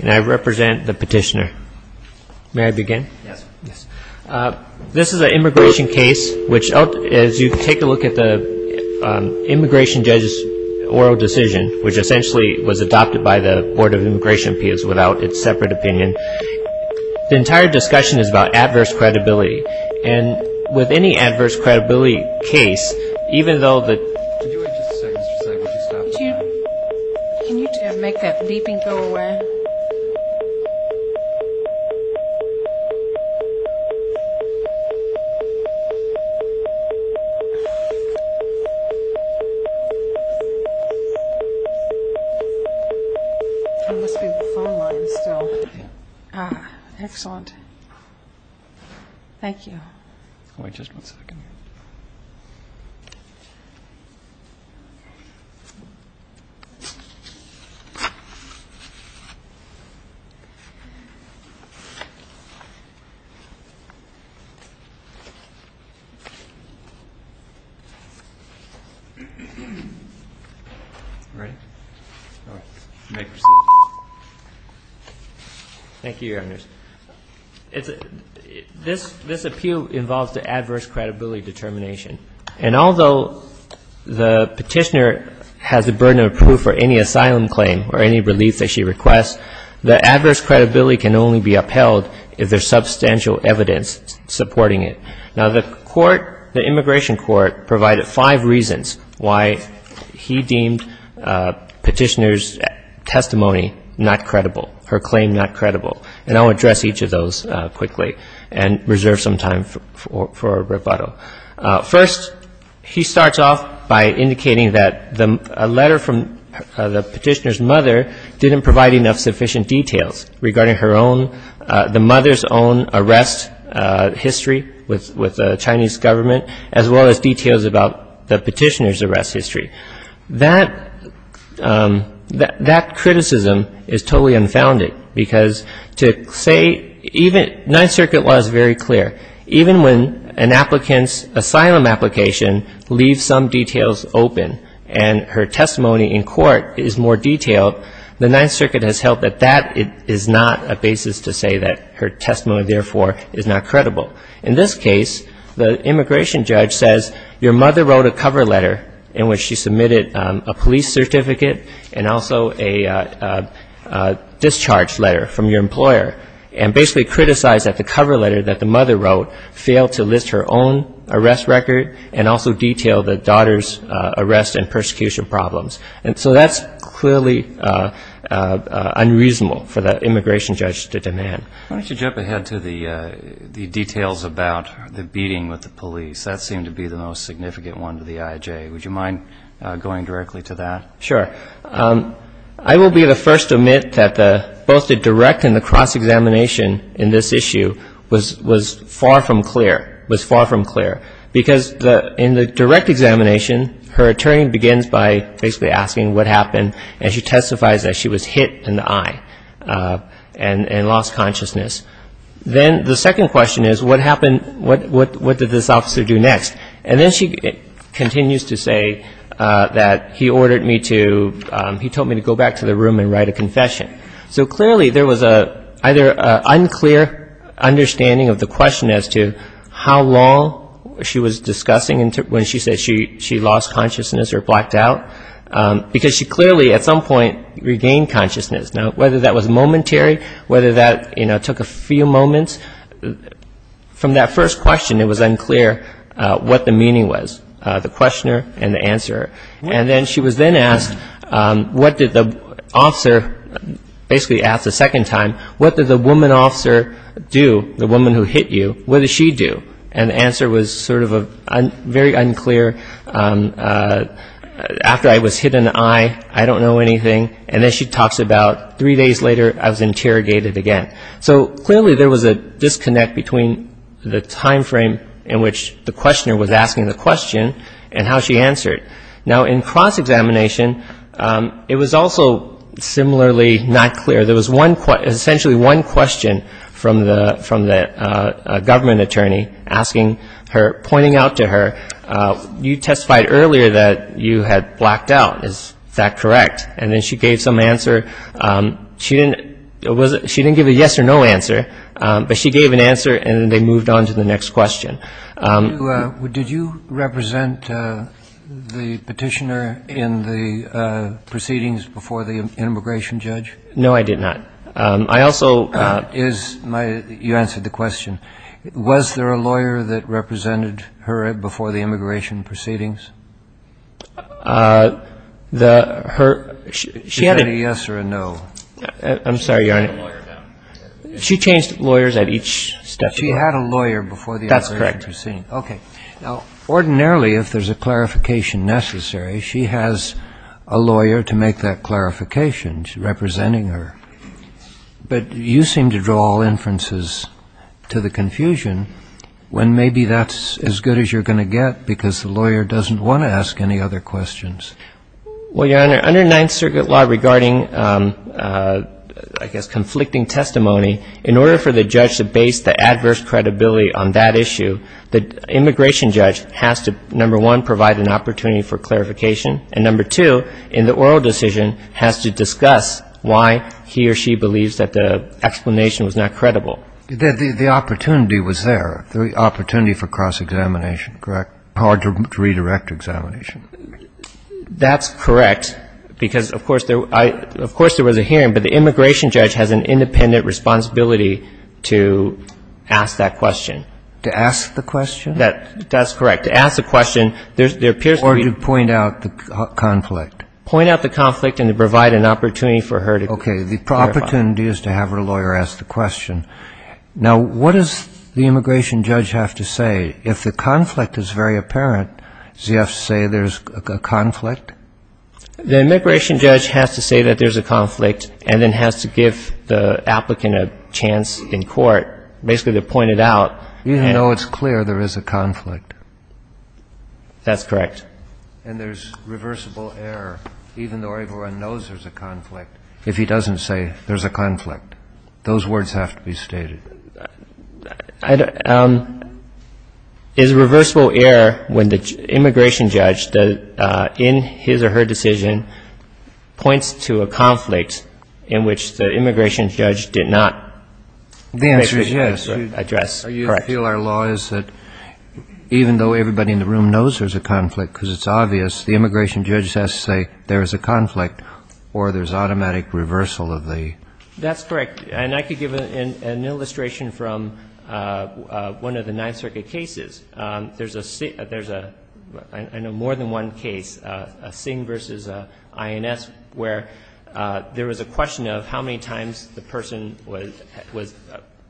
and I represent the petitioner. May I begin? Yes. This is an immigration case, which, as you take a look at the immigration judge's oral decision, which essentially was adopted by the Board of Immigration Appeals without its separate opinion, the entire discussion is about adverse credibility. And with any adverse credibility case, even though the... Could you wait just a second, just a second? Would you stop the time? Can you make that beeping go away? It must be the phone line still. Ah, excellent. Thank you. Wait just one second. Ready? All right. May proceed. Thank you, Your Honors. This appeal involves the adverse credibility determination. And although the petitioner has the burden of proof for any asylum claim or any relief that she requests, the adverse credibility can only be upheld if there's substantial evidence supporting it. Now, the court, the immigration court, provided five reasons why he deemed petitioner's testimony not credible, her claim not credible. And I'll address each of those quickly and reserve some time for rebuttal. First, he starts off by indicating that a letter from the petitioner's mother didn't provide enough sufficient details regarding her own, the mother's own arrest history with the Chinese government, as well as details about the petitioner's arrest history. That criticism is totally unfounded, because to say even... Ninth Circuit law is very clear. Even when an applicant's asylum application leaves some details open and her testimony in court is more detailed, the Ninth Circuit has held that that is not a basis to say that her testimony, therefore, is not credible. In this case, the immigration judge says, your mother wrote a cover letter in which she submitted a police certificate and also a discharge letter from your employer, and basically criticized that the cover letter that the mother wrote failed to list her own arrest record and also detail the daughter's arrest and persecution problems. And so that's clearly unreasonable for the immigration judge to demand. Why don't you jump ahead to the details about the beating with the police. That seemed to be the most significant one to the IJ. Would you mind going directly to that? Sure. I will be the first to admit that both the direct and the cross-examination in this issue was far from clear, was far from clear. Because in the direct examination, her attorney begins by basically asking what happened, and she testifies that she was hit in the eye and lost consciousness. Then the second question is, what happened, what did this officer do next? And then she continues to say that he ordered me to, he told me to go back to the room and write a confession. So clearly there was either an unclear understanding of the question as to how long she was discussing when she said she lost consciousness or blacked out, because she clearly at some point regained consciousness. Now, whether that was momentary, whether that took a few moments, from that first question it was unclear what the meaning was, the questioner and the answerer. And then she was then asked, what did the officer, basically asked a second time, what did the woman officer do, the woman who hit you, what did she do? And the answer was sort of very unclear. After I was hit in the eye, I don't know anything. And then she talks about three days later I was interrogated again. So clearly there was a disconnect between the time frame in which the questioner was asking the question and how she answered. Now, in cross-examination, it was also similarly not clear. There was essentially one question from the government attorney asking her, pointing out to her, you testified earlier that you had blacked out. Is that correct? And then she gave some answer. She didn't give a yes or no answer, but she gave an answer and then they moved on to the next question. Did you represent the petitioner in the proceedings before the immigration judge? No, I did not. You answered the question. Was there a lawyer that represented her before the immigration proceedings? She had a yes or a no. I'm sorry, Your Honor. She changed lawyers at each step. She had a lawyer before the immigration proceedings. That's correct. But you seem to draw all inferences to the confusion when maybe that's as good as you're going to get because the lawyer doesn't want to ask any other questions. Well, Your Honor, under Ninth Circuit law regarding, I guess, conflicting testimony, in order for the judge to base the adverse credibility on that issue, the immigration judge has to, number one, provide an opportunity for clarification, and number two, in the oral decision, has to discuss why he or she believes that the explanation was not credible. The opportunity was there, the opportunity for cross-examination, correct? Hard to redirect examination. That's correct because, of course, there was a hearing, but the immigration judge has an independent responsibility to ask that question. To ask the question? That's correct. To ask the question, there appears to be Or to point out the conflict. Point out the conflict and to provide an opportunity for her to clarify. Okay. The opportunity is to have her lawyer ask the question. Now, what does the immigration judge have to say? If the conflict is very apparent, does he have to say there's a conflict? The immigration judge has to say that there's a conflict and then has to give the applicant a chance in court, basically to point it out. Even though it's clear there is a conflict. That's correct. And there's reversible error, even though everyone knows there's a conflict, if he doesn't say there's a conflict. Those words have to be stated. Is reversible error when the immigration judge, in his or her decision, points to a conflict in which the immigration judge did not address? The answer is yes. Correct. I feel our law is that even though everybody in the room knows there's a conflict because it's obvious, the immigration judge has to say there is a conflict or there's automatic reversal of the. That's correct. And I could give an illustration from one of the Ninth Circuit cases. There's a, I know, more than one case, Singh versus INS, where there was a question of how many times the person was,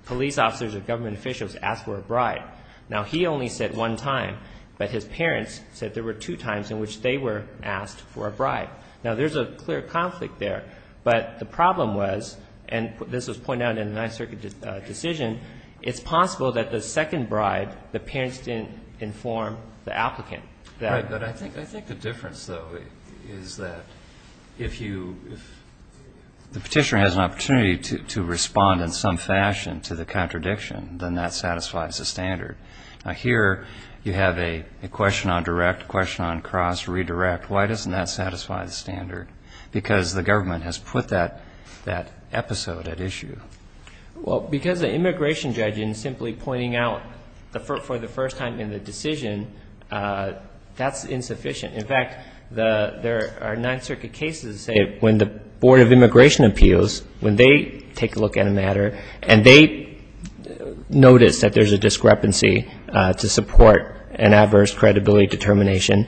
police officers or government officials, asked for a bribe. Now, he only said one time, but his parents said there were two times in which they were asked for a bribe. Now, there's a clear conflict there, but the problem was, and this was pointed out in the Ninth Circuit decision, it's possible that the second bribe the parents didn't inform the applicant. Right. But I think the difference, though, is that if you, the petitioner has an opportunity to respond in some fashion to the contradiction, then that satisfies the standard. Now, here you have a question on direct, question on cross, redirect. Why doesn't that satisfy the standard? Because the government has put that episode at issue. Well, because the immigration judge in simply pointing out for the first time in the decision, that's insufficient. In fact, there are Ninth Circuit cases, say, when the Board of Immigration Appeals, when they take a look at a matter and they notice that there's a discrepancy to support an adverse credibility determination,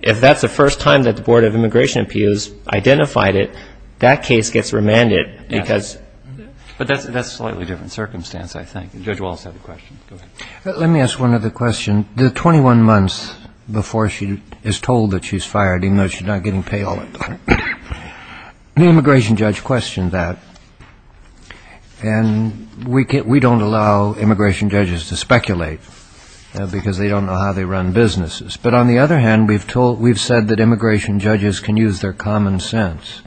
if that's the first time that the Board of Immigration Appeals identified it, that case gets remanded because. But that's a slightly different circumstance, I think. Judge Walz had a question. Go ahead. Let me ask one other question. In the 21 months before she is told that she's fired, even though she's not getting paid all that, the immigration judge questioned that. And we don't allow immigration judges to speculate because they don't know how they run businesses. But on the other hand, we've said that immigration judges can use their common sense.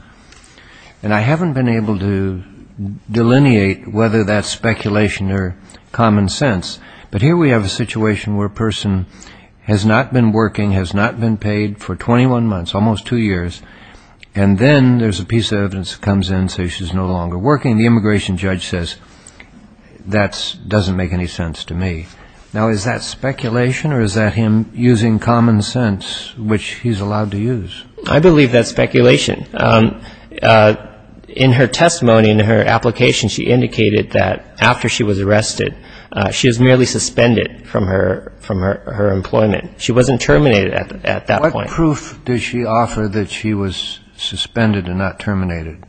And I haven't been able to delineate whether that's speculation or common sense. But here we have a situation where a person has not been working, has not been paid for 21 months, almost two years, and then there's a piece of evidence that comes in saying she's no longer working. The immigration judge says, that doesn't make any sense to me. Now, is that speculation or is that him using common sense, which he's allowed to use? I believe that's speculation. In her testimony, in her application, she indicated that after she was arrested, she was merely suspended from her employment. She wasn't terminated at that point. What proof did she offer that she was suspended and not terminated?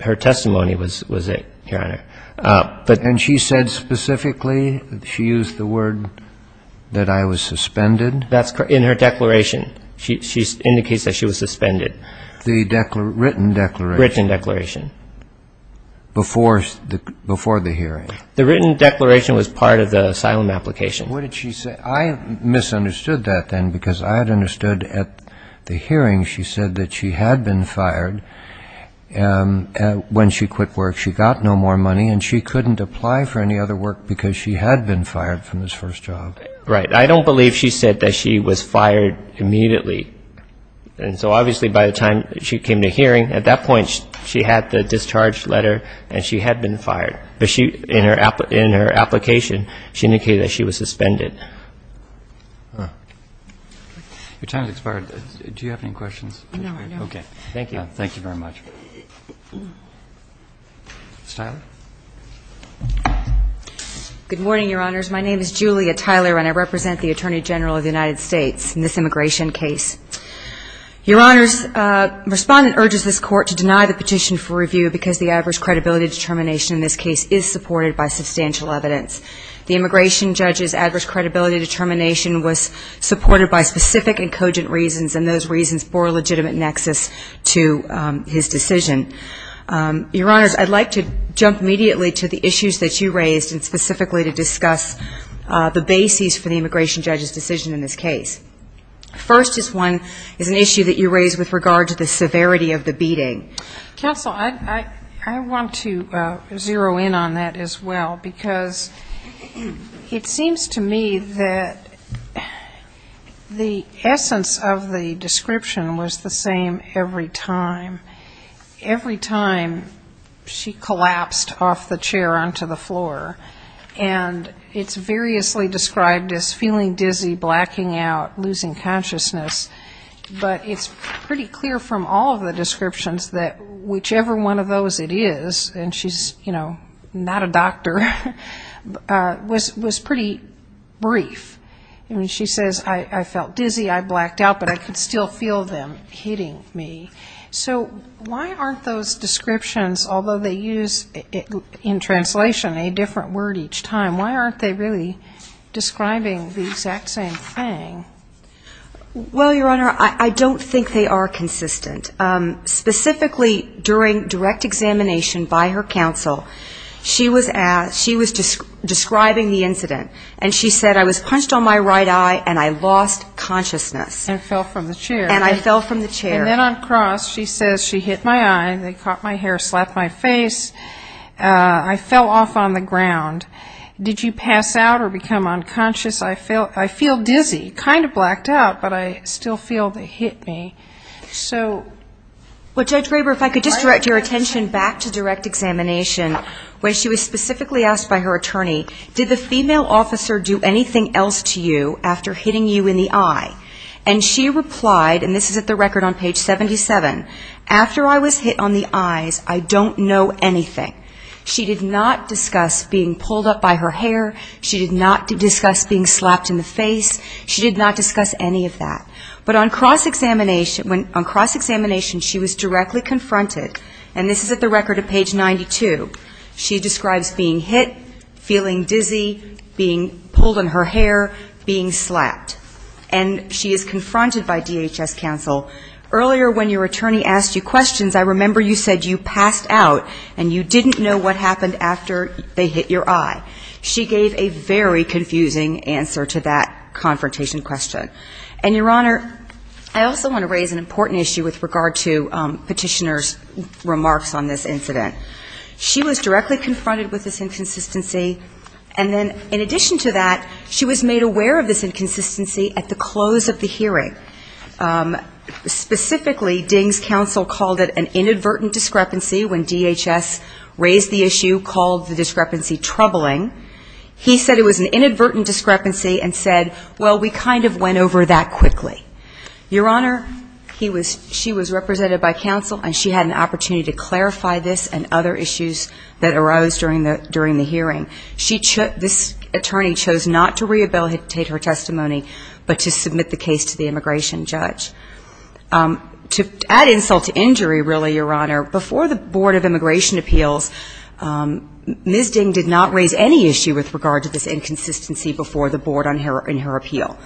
Her testimony was it, Your Honor. And she said specifically, she used the word that I was suspended? That's correct. In her declaration, she indicates that she was suspended. The written declaration? Written declaration. Before the hearing? The written declaration was part of the asylum application. What did she say? I misunderstood that then because I had understood at the hearing, she said that she had been fired when she quit work. She got no more money and she couldn't apply for any other work because she had been fired from this first job. Right. I don't believe she said that she was fired immediately. And so obviously by the time she came to hearing, at that point she had the discharge letter and she had been fired. But in her application, she indicated that she was suspended. Your time has expired. Do you have any questions? No, no. Okay. Thank you. Thank you very much. Ms. Tyler. Good morning, Your Honors. My name is Julia Tyler and I represent the Attorney General of the United States in this immigration case. Your Honors, the Respondent urges this Court to deny the petition for review because the adverse credibility determination in this case is supported by substantial evidence. The immigration judge's adverse credibility determination was supported by specific and cogent reasons, and those reasons bore a legitimate nexus to his decision. Your Honors, I'd like to jump immediately to the issues that you raised and specifically to discuss the bases for the immigration judge's decision in this case. First is one, is an issue that you raised with regard to the severity of the beating. Counsel, I want to zero in on that as well because it seems to me that the essence of the description was the same every time. Every time she collapsed off the chair onto the floor, and it's variously described as feeling dizzy, blacking out, losing consciousness. But it's pretty clear from all of the descriptions that whichever one of those it is, and she's not a doctor, was pretty brief. She says, I felt dizzy, I blacked out, but I could still feel them hitting me. So why aren't those descriptions, although they use in translation a different word each time, why aren't they really describing the exact same thing? Well, Your Honor, I don't think they are consistent. Specifically during direct examination by her counsel, she was describing the incident, and she said, I was punched on my right eye and I lost consciousness. And fell from the chair. And I fell from the chair. And then on cross, she says, she hit my eye, they caught my hair, slapped my face, I fell off on the ground. Did you pass out or become unconscious? I feel dizzy, kind of blacked out, but I still feel they hit me. So... Well, Judge Graber, if I could just direct your attention back to direct examination, where she was specifically asked by her attorney, did the female officer do anything else to you after hitting you in the eye? And she replied, and this is at the record on page 77, after I was hit on the eye, pulled up by her hair, she did not discuss being slapped in the face, she did not discuss any of that. But on cross examination, she was directly confronted, and this is at the record of page 92. She describes being hit, feeling dizzy, being pulled on her hair, being slapped. And she is confronted by DHS counsel, earlier when your attorney asked you questions, I remember you said you passed out and you didn't know what happened after they hit your eye. She gave a very confusing answer to that confrontation question. And, Your Honor, I also want to raise an important issue with regard to petitioner's remarks on this incident. She was directly confronted with this inconsistency, and then in addition to that, she was made aware of this inconsistency at the close of the hearing. Specifically, Ding's counsel called it an inadvertent discrepancy when DHS raised the issue, called the discrepancy troubling. He said it was an inadvertent discrepancy and said, well, we kind of went over that quickly. Your Honor, she was represented by counsel, and she had an opportunity to clarify this and other issues that arose during the hearing. This attorney chose not to rehabilitate her testimony, but to submit the case to the immigration judge. To add insult to injury, really, Your Honor, before the Board of Immigration Appeals, Ms. Ding did not raise any issue with regard to this inconsistency before the Board in her appeal.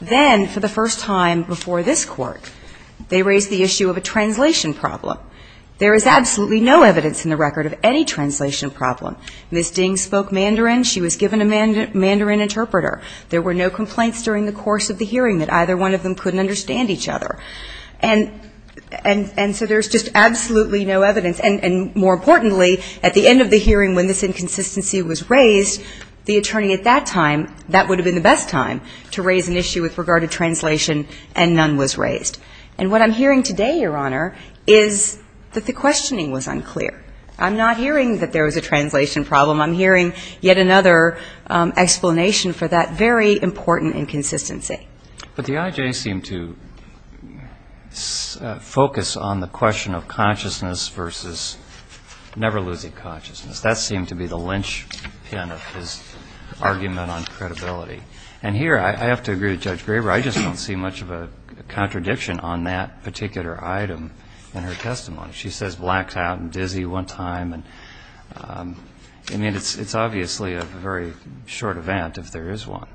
Then, for the first time before this Court, they raised the issue of a translation problem. There is absolutely no evidence in the record of any translation problem. Ms. Ding spoke Mandarin. She was given a Mandarin interpreter. There were no complaints during the course of the hearing that either one of them couldn't understand each other. And so there's just absolutely no evidence. And more importantly, at the end of the hearing, when this inconsistency was raised, the attorney at that time, that would have been the best time to raise an issue with regard to translation, and none was raised. And what I'm hearing today, Your Honor, is that the questioning was unclear. I'm not hearing that there was a translation problem. I'm hearing yet another explanation for that very important inconsistency. But the IJ seemed to focus on the question of consciousness versus never losing consciousness. That seemed to be the linchpin of his argument on credibility. And here, I have to agree with Judge Graber, I just don't see much of a contradiction on that particular item in her testimony. She says blacked out and dizzy one time. I mean, it's obviously a very short event if there is one.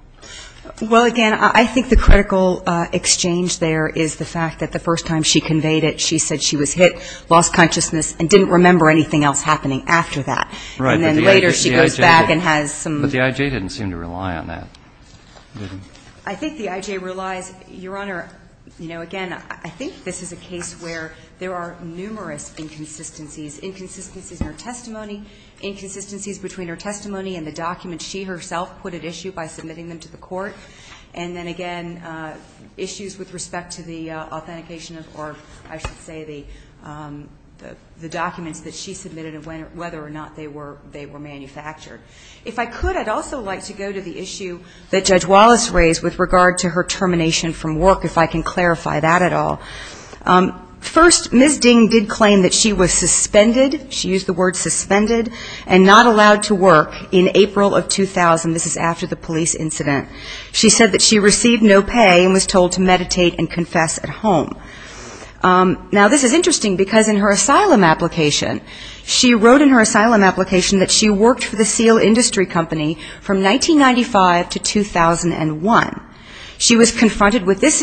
Well, again, I think the critical exchange there is the fact that the first time she conveyed it, she said she was hit, lost consciousness, and didn't remember anything else happening after that. Right. And then later she goes back and has some. But the IJ didn't seem to rely on that. I think the IJ relies. Your Honor, you know, again, I think this is a case where there are numerous issues with respect to the authentication or, I should say, the documents that she submitted and whether or not they were manufactured. If I could, I'd also like to go to the issue that Judge Wallace raised with regard to her termination from work, if I can clarify that at all. First, Ms. Ding did claim that she was suspended, she used the word suspended, and not allowed to work in April of 2000. This is after the police incident. She said that she received no pay and was told to meditate and confess at home. Now, this is interesting, because in her asylum application, she wrote in her asylum application that she worked for the Seal Industry Company from 1995 to 2001. She was confronted with this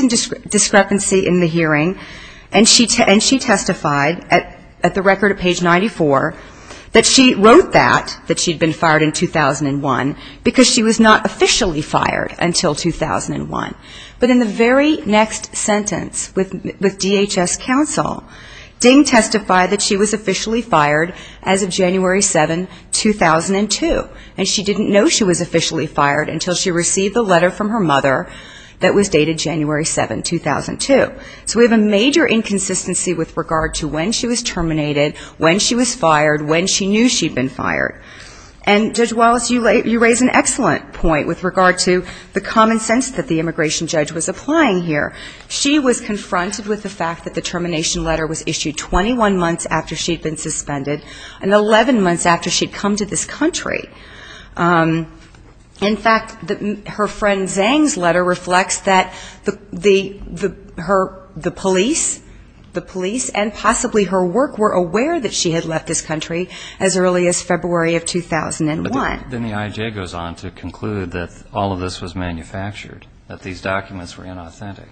discrepancy in the hearing, and she testified at the hearing, she wrote that, that she'd been fired in 2001, because she was not officially fired until 2001. But in the very next sentence with DHS counsel, Ding testified that she was officially fired as of January 7, 2002, and she didn't know she was officially fired until she received a letter from her mother that was dated January 7, 2002. So we have a major inconsistency with regard to when she was terminated, when she was fired, when she knew she'd been fired. And Judge Wallace, you raise an excellent point with regard to the common sense that the immigration judge was applying here. She was confronted with the fact that the termination letter was issued 21 months after she'd been suspended, and 11 months after she'd come to this country. In fact, her friend Zhang's letter reflects that the police and possibly her work were aware that she had left this country as early as February of 2001. But then the IJ goes on to conclude that all of this was manufactured, that these documents were inauthentic.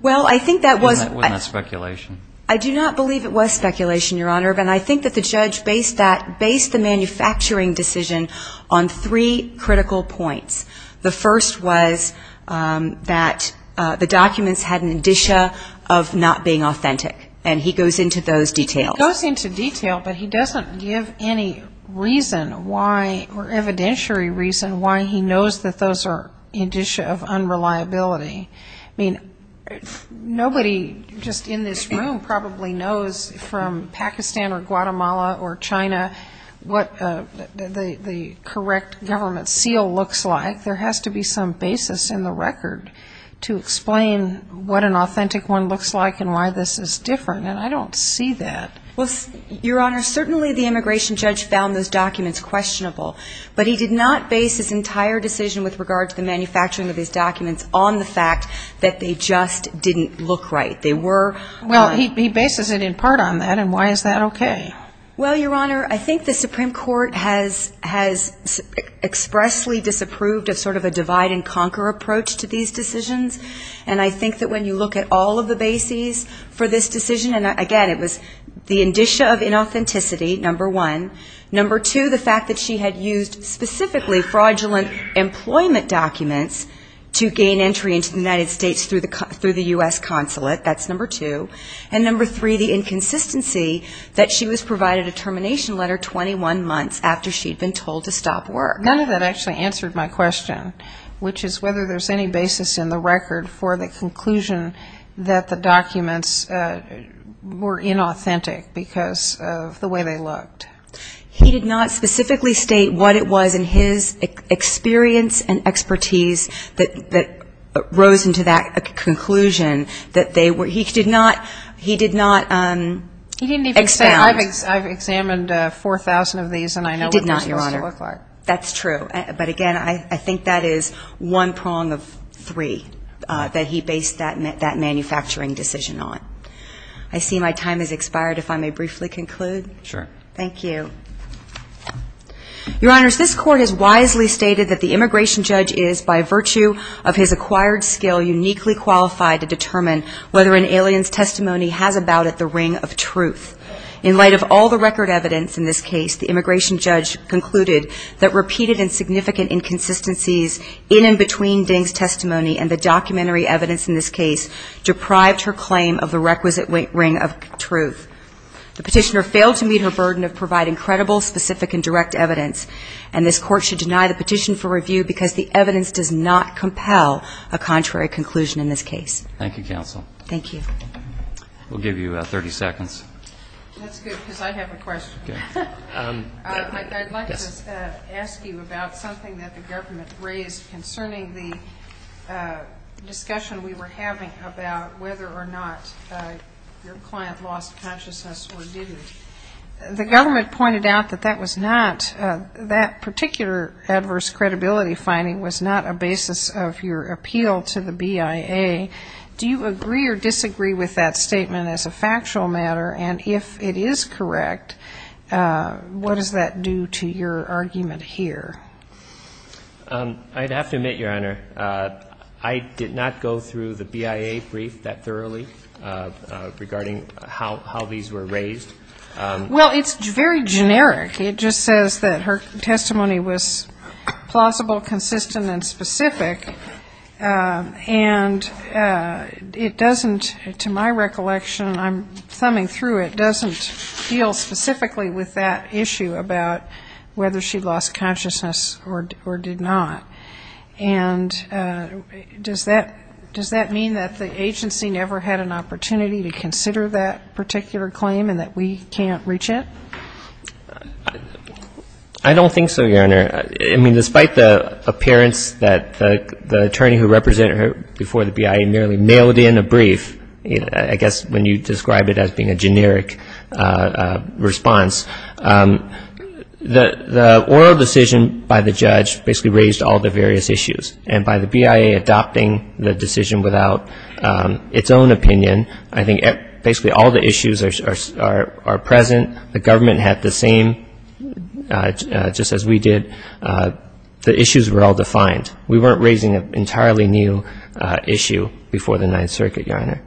Well, I think that was. Wasn't that speculation? I do not believe it was speculation, Your Honor, but I think that the judge based that, based the manufacturing decision on three critical points. The first was that the documents had an indicia of not being authentic, and he goes into those details. He goes into detail, but he doesn't give any reason why, or evidentiary reason why he knows that those are indicia of unreliability. I mean, nobody just in this room probably knows from Pakistan or Guatemala or China what the correct government seal looks like. There has to be some basis in the record to explain what an authentic one looks like and why this is different, and I don't see that. Well, Your Honor, certainly the immigration judge found those documents questionable, but he did not base his entire decision with regard to the manufacturing of these documents on the fact that they just didn't look right. They were. Well, he bases it in part on that, and why is that okay? Well, Your Honor, I think the Supreme Court has expressly disapproved of sort of a divide-and-conquer approach to these decisions, and I think that when you look at all of the bases for this decision, and again, it was the indicia of inauthenticity, number one. Number two, the fact that she had used specifically fraudulent employment documents to gain entry into the United States through the U.S. consulate. That's number two. And number three, the inconsistency that she was provided a termination letter 21 months after she had been told to stop work. None of that actually answered my question, which is whether there's any basis in the record for the conclusion that the documents were inauthentic because of the way they looked. He did not specifically state what it was in his experience and expertise that rose into that conclusion that they were. He did not expound. He didn't even say, I've examined 4,000 of these, and I know what they still look like. He did not, Your Honor. That's true. But again, I think that is one prong of three that he based that manufacturing decision on. I see my time has expired. If I may briefly conclude. Sure. Thank you. Your Honors, this Court has wisely stated that the immigration judge is, by virtue of his acquired skill, uniquely qualified to determine whether an alien's testimony has about it the ring of truth. In light of all the record evidence in this case, the immigration judge concluded that repeated and significant inconsistencies in and between Ding's testimony and the documentary evidence in this case deprived her claim of the requisite ring of truth. The petitioner failed to meet her burden of providing credible, specific, and direct evidence, and this Court should deny the petition for review because the evidence does not compel a contrary conclusion in this case. Thank you, counsel. Thank you. We'll give you 30 seconds. That's good, because I have a question. I'd like to ask you about something that the government raised concerning the discussion we were having about whether or not your client lost consciousness or didn't. The government pointed out that that was not, that particular adverse credibility finding was not a basis of your appeal to the BIA. Do you agree or disagree with that statement as a factual matter? And if it is correct, what does that do to your argument here? I'd have to admit, Your Honor, I did not go through the BIA brief that thoroughly regarding how these were raised. Well, it's very generic. It just says that her testimony was plausible, consistent, and specific. And it doesn't, to my recollection, I'm thumbing through it, doesn't deal specifically with that issue about whether she lost consciousness or did not. And does that mean that the agency never had an opportunity to consider that particular claim and that we can't reach it? I don't think so, Your Honor. I mean, despite the appearance that the attorney who represented her before the BIA merely mailed in a brief, I guess when you describe it as being a generic response, the oral decision by the judge basically raised all the various issues. And by the BIA adopting the decision without its own opinion, I think basically all the issues are present. The government had the same, just as we did. The issues were all defined. We weren't raising an entirely new issue before the Ninth Circuit, Your Honor.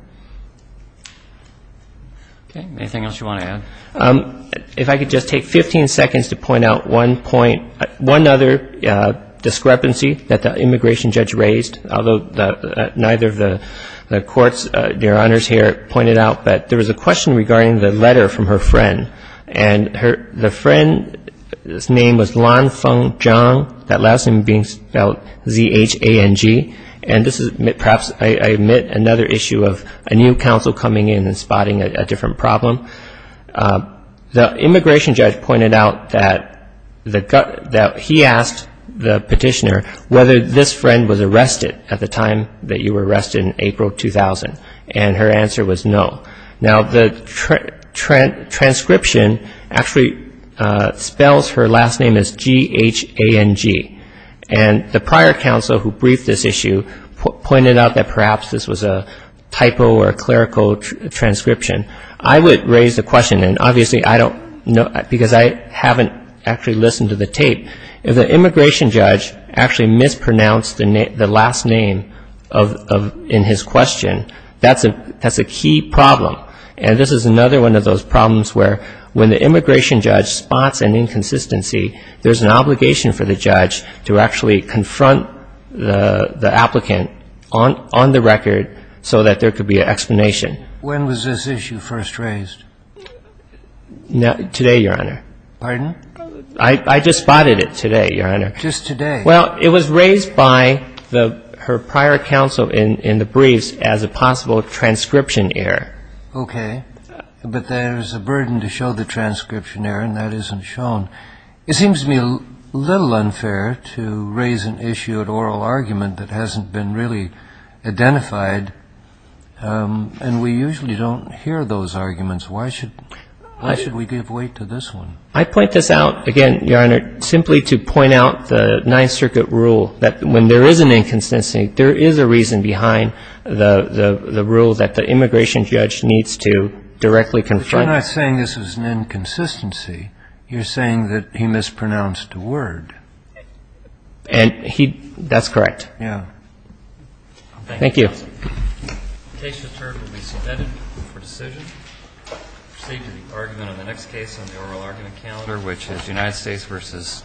Okay. Anything else you want to add? If I could just take 15 seconds to point out one point, one other discrepancy that the immigration judge raised, although neither of the courts, Your Honors, here pointed out, but there was a question regarding the letter from her friend. And the friend's name was Lan Feng Zhang. That last name being spelled Z-H-A-N-G. And this is perhaps, I admit, another issue of a new counsel coming in and spotting a different problem. The immigration judge pointed out that he asked the petitioner whether this friend was arrested at the time that you were arrested in April 2000, and her answer was no. Now, the transcription actually spells her last name as G-H-A-N-G. And the prior counsel who briefed this issue pointed out that perhaps this was a typo or a clerical transcription. I would raise the question, and obviously I don't know, because I haven't actually listened to the tape. If the immigration judge actually mispronounced the last name in his question, that's a key problem. And this is another one of those problems where when the immigration judge spots an inconsistency, there's an obligation for the judge to actually confront the applicant on the record so that there could be an explanation. When was this issue first raised? Today, Your Honor. Pardon? I just spotted it today, Your Honor. Just today? Well, it was raised by her prior counsel in the briefs as a possible transcription error. Okay. But there's a burden to show the transcription error, and that isn't shown. It seems to me a little unfair to raise an issue at oral argument that hasn't been really identified, and we usually don't hear those arguments. Why should we give weight to this one? I point this out, again, Your Honor, simply to point out the Ninth Circuit rule, that when there is an inconsistency, there is a reason behind the rule that the immigration judge needs to directly confront. But you're not saying this is an inconsistency. You're saying that he mispronounced a word. And he — that's correct. Yeah. Thank you. The case returned will be submitted for decision. Proceed to the argument on the next case on the oral argument calendar, which is United States v. Creation.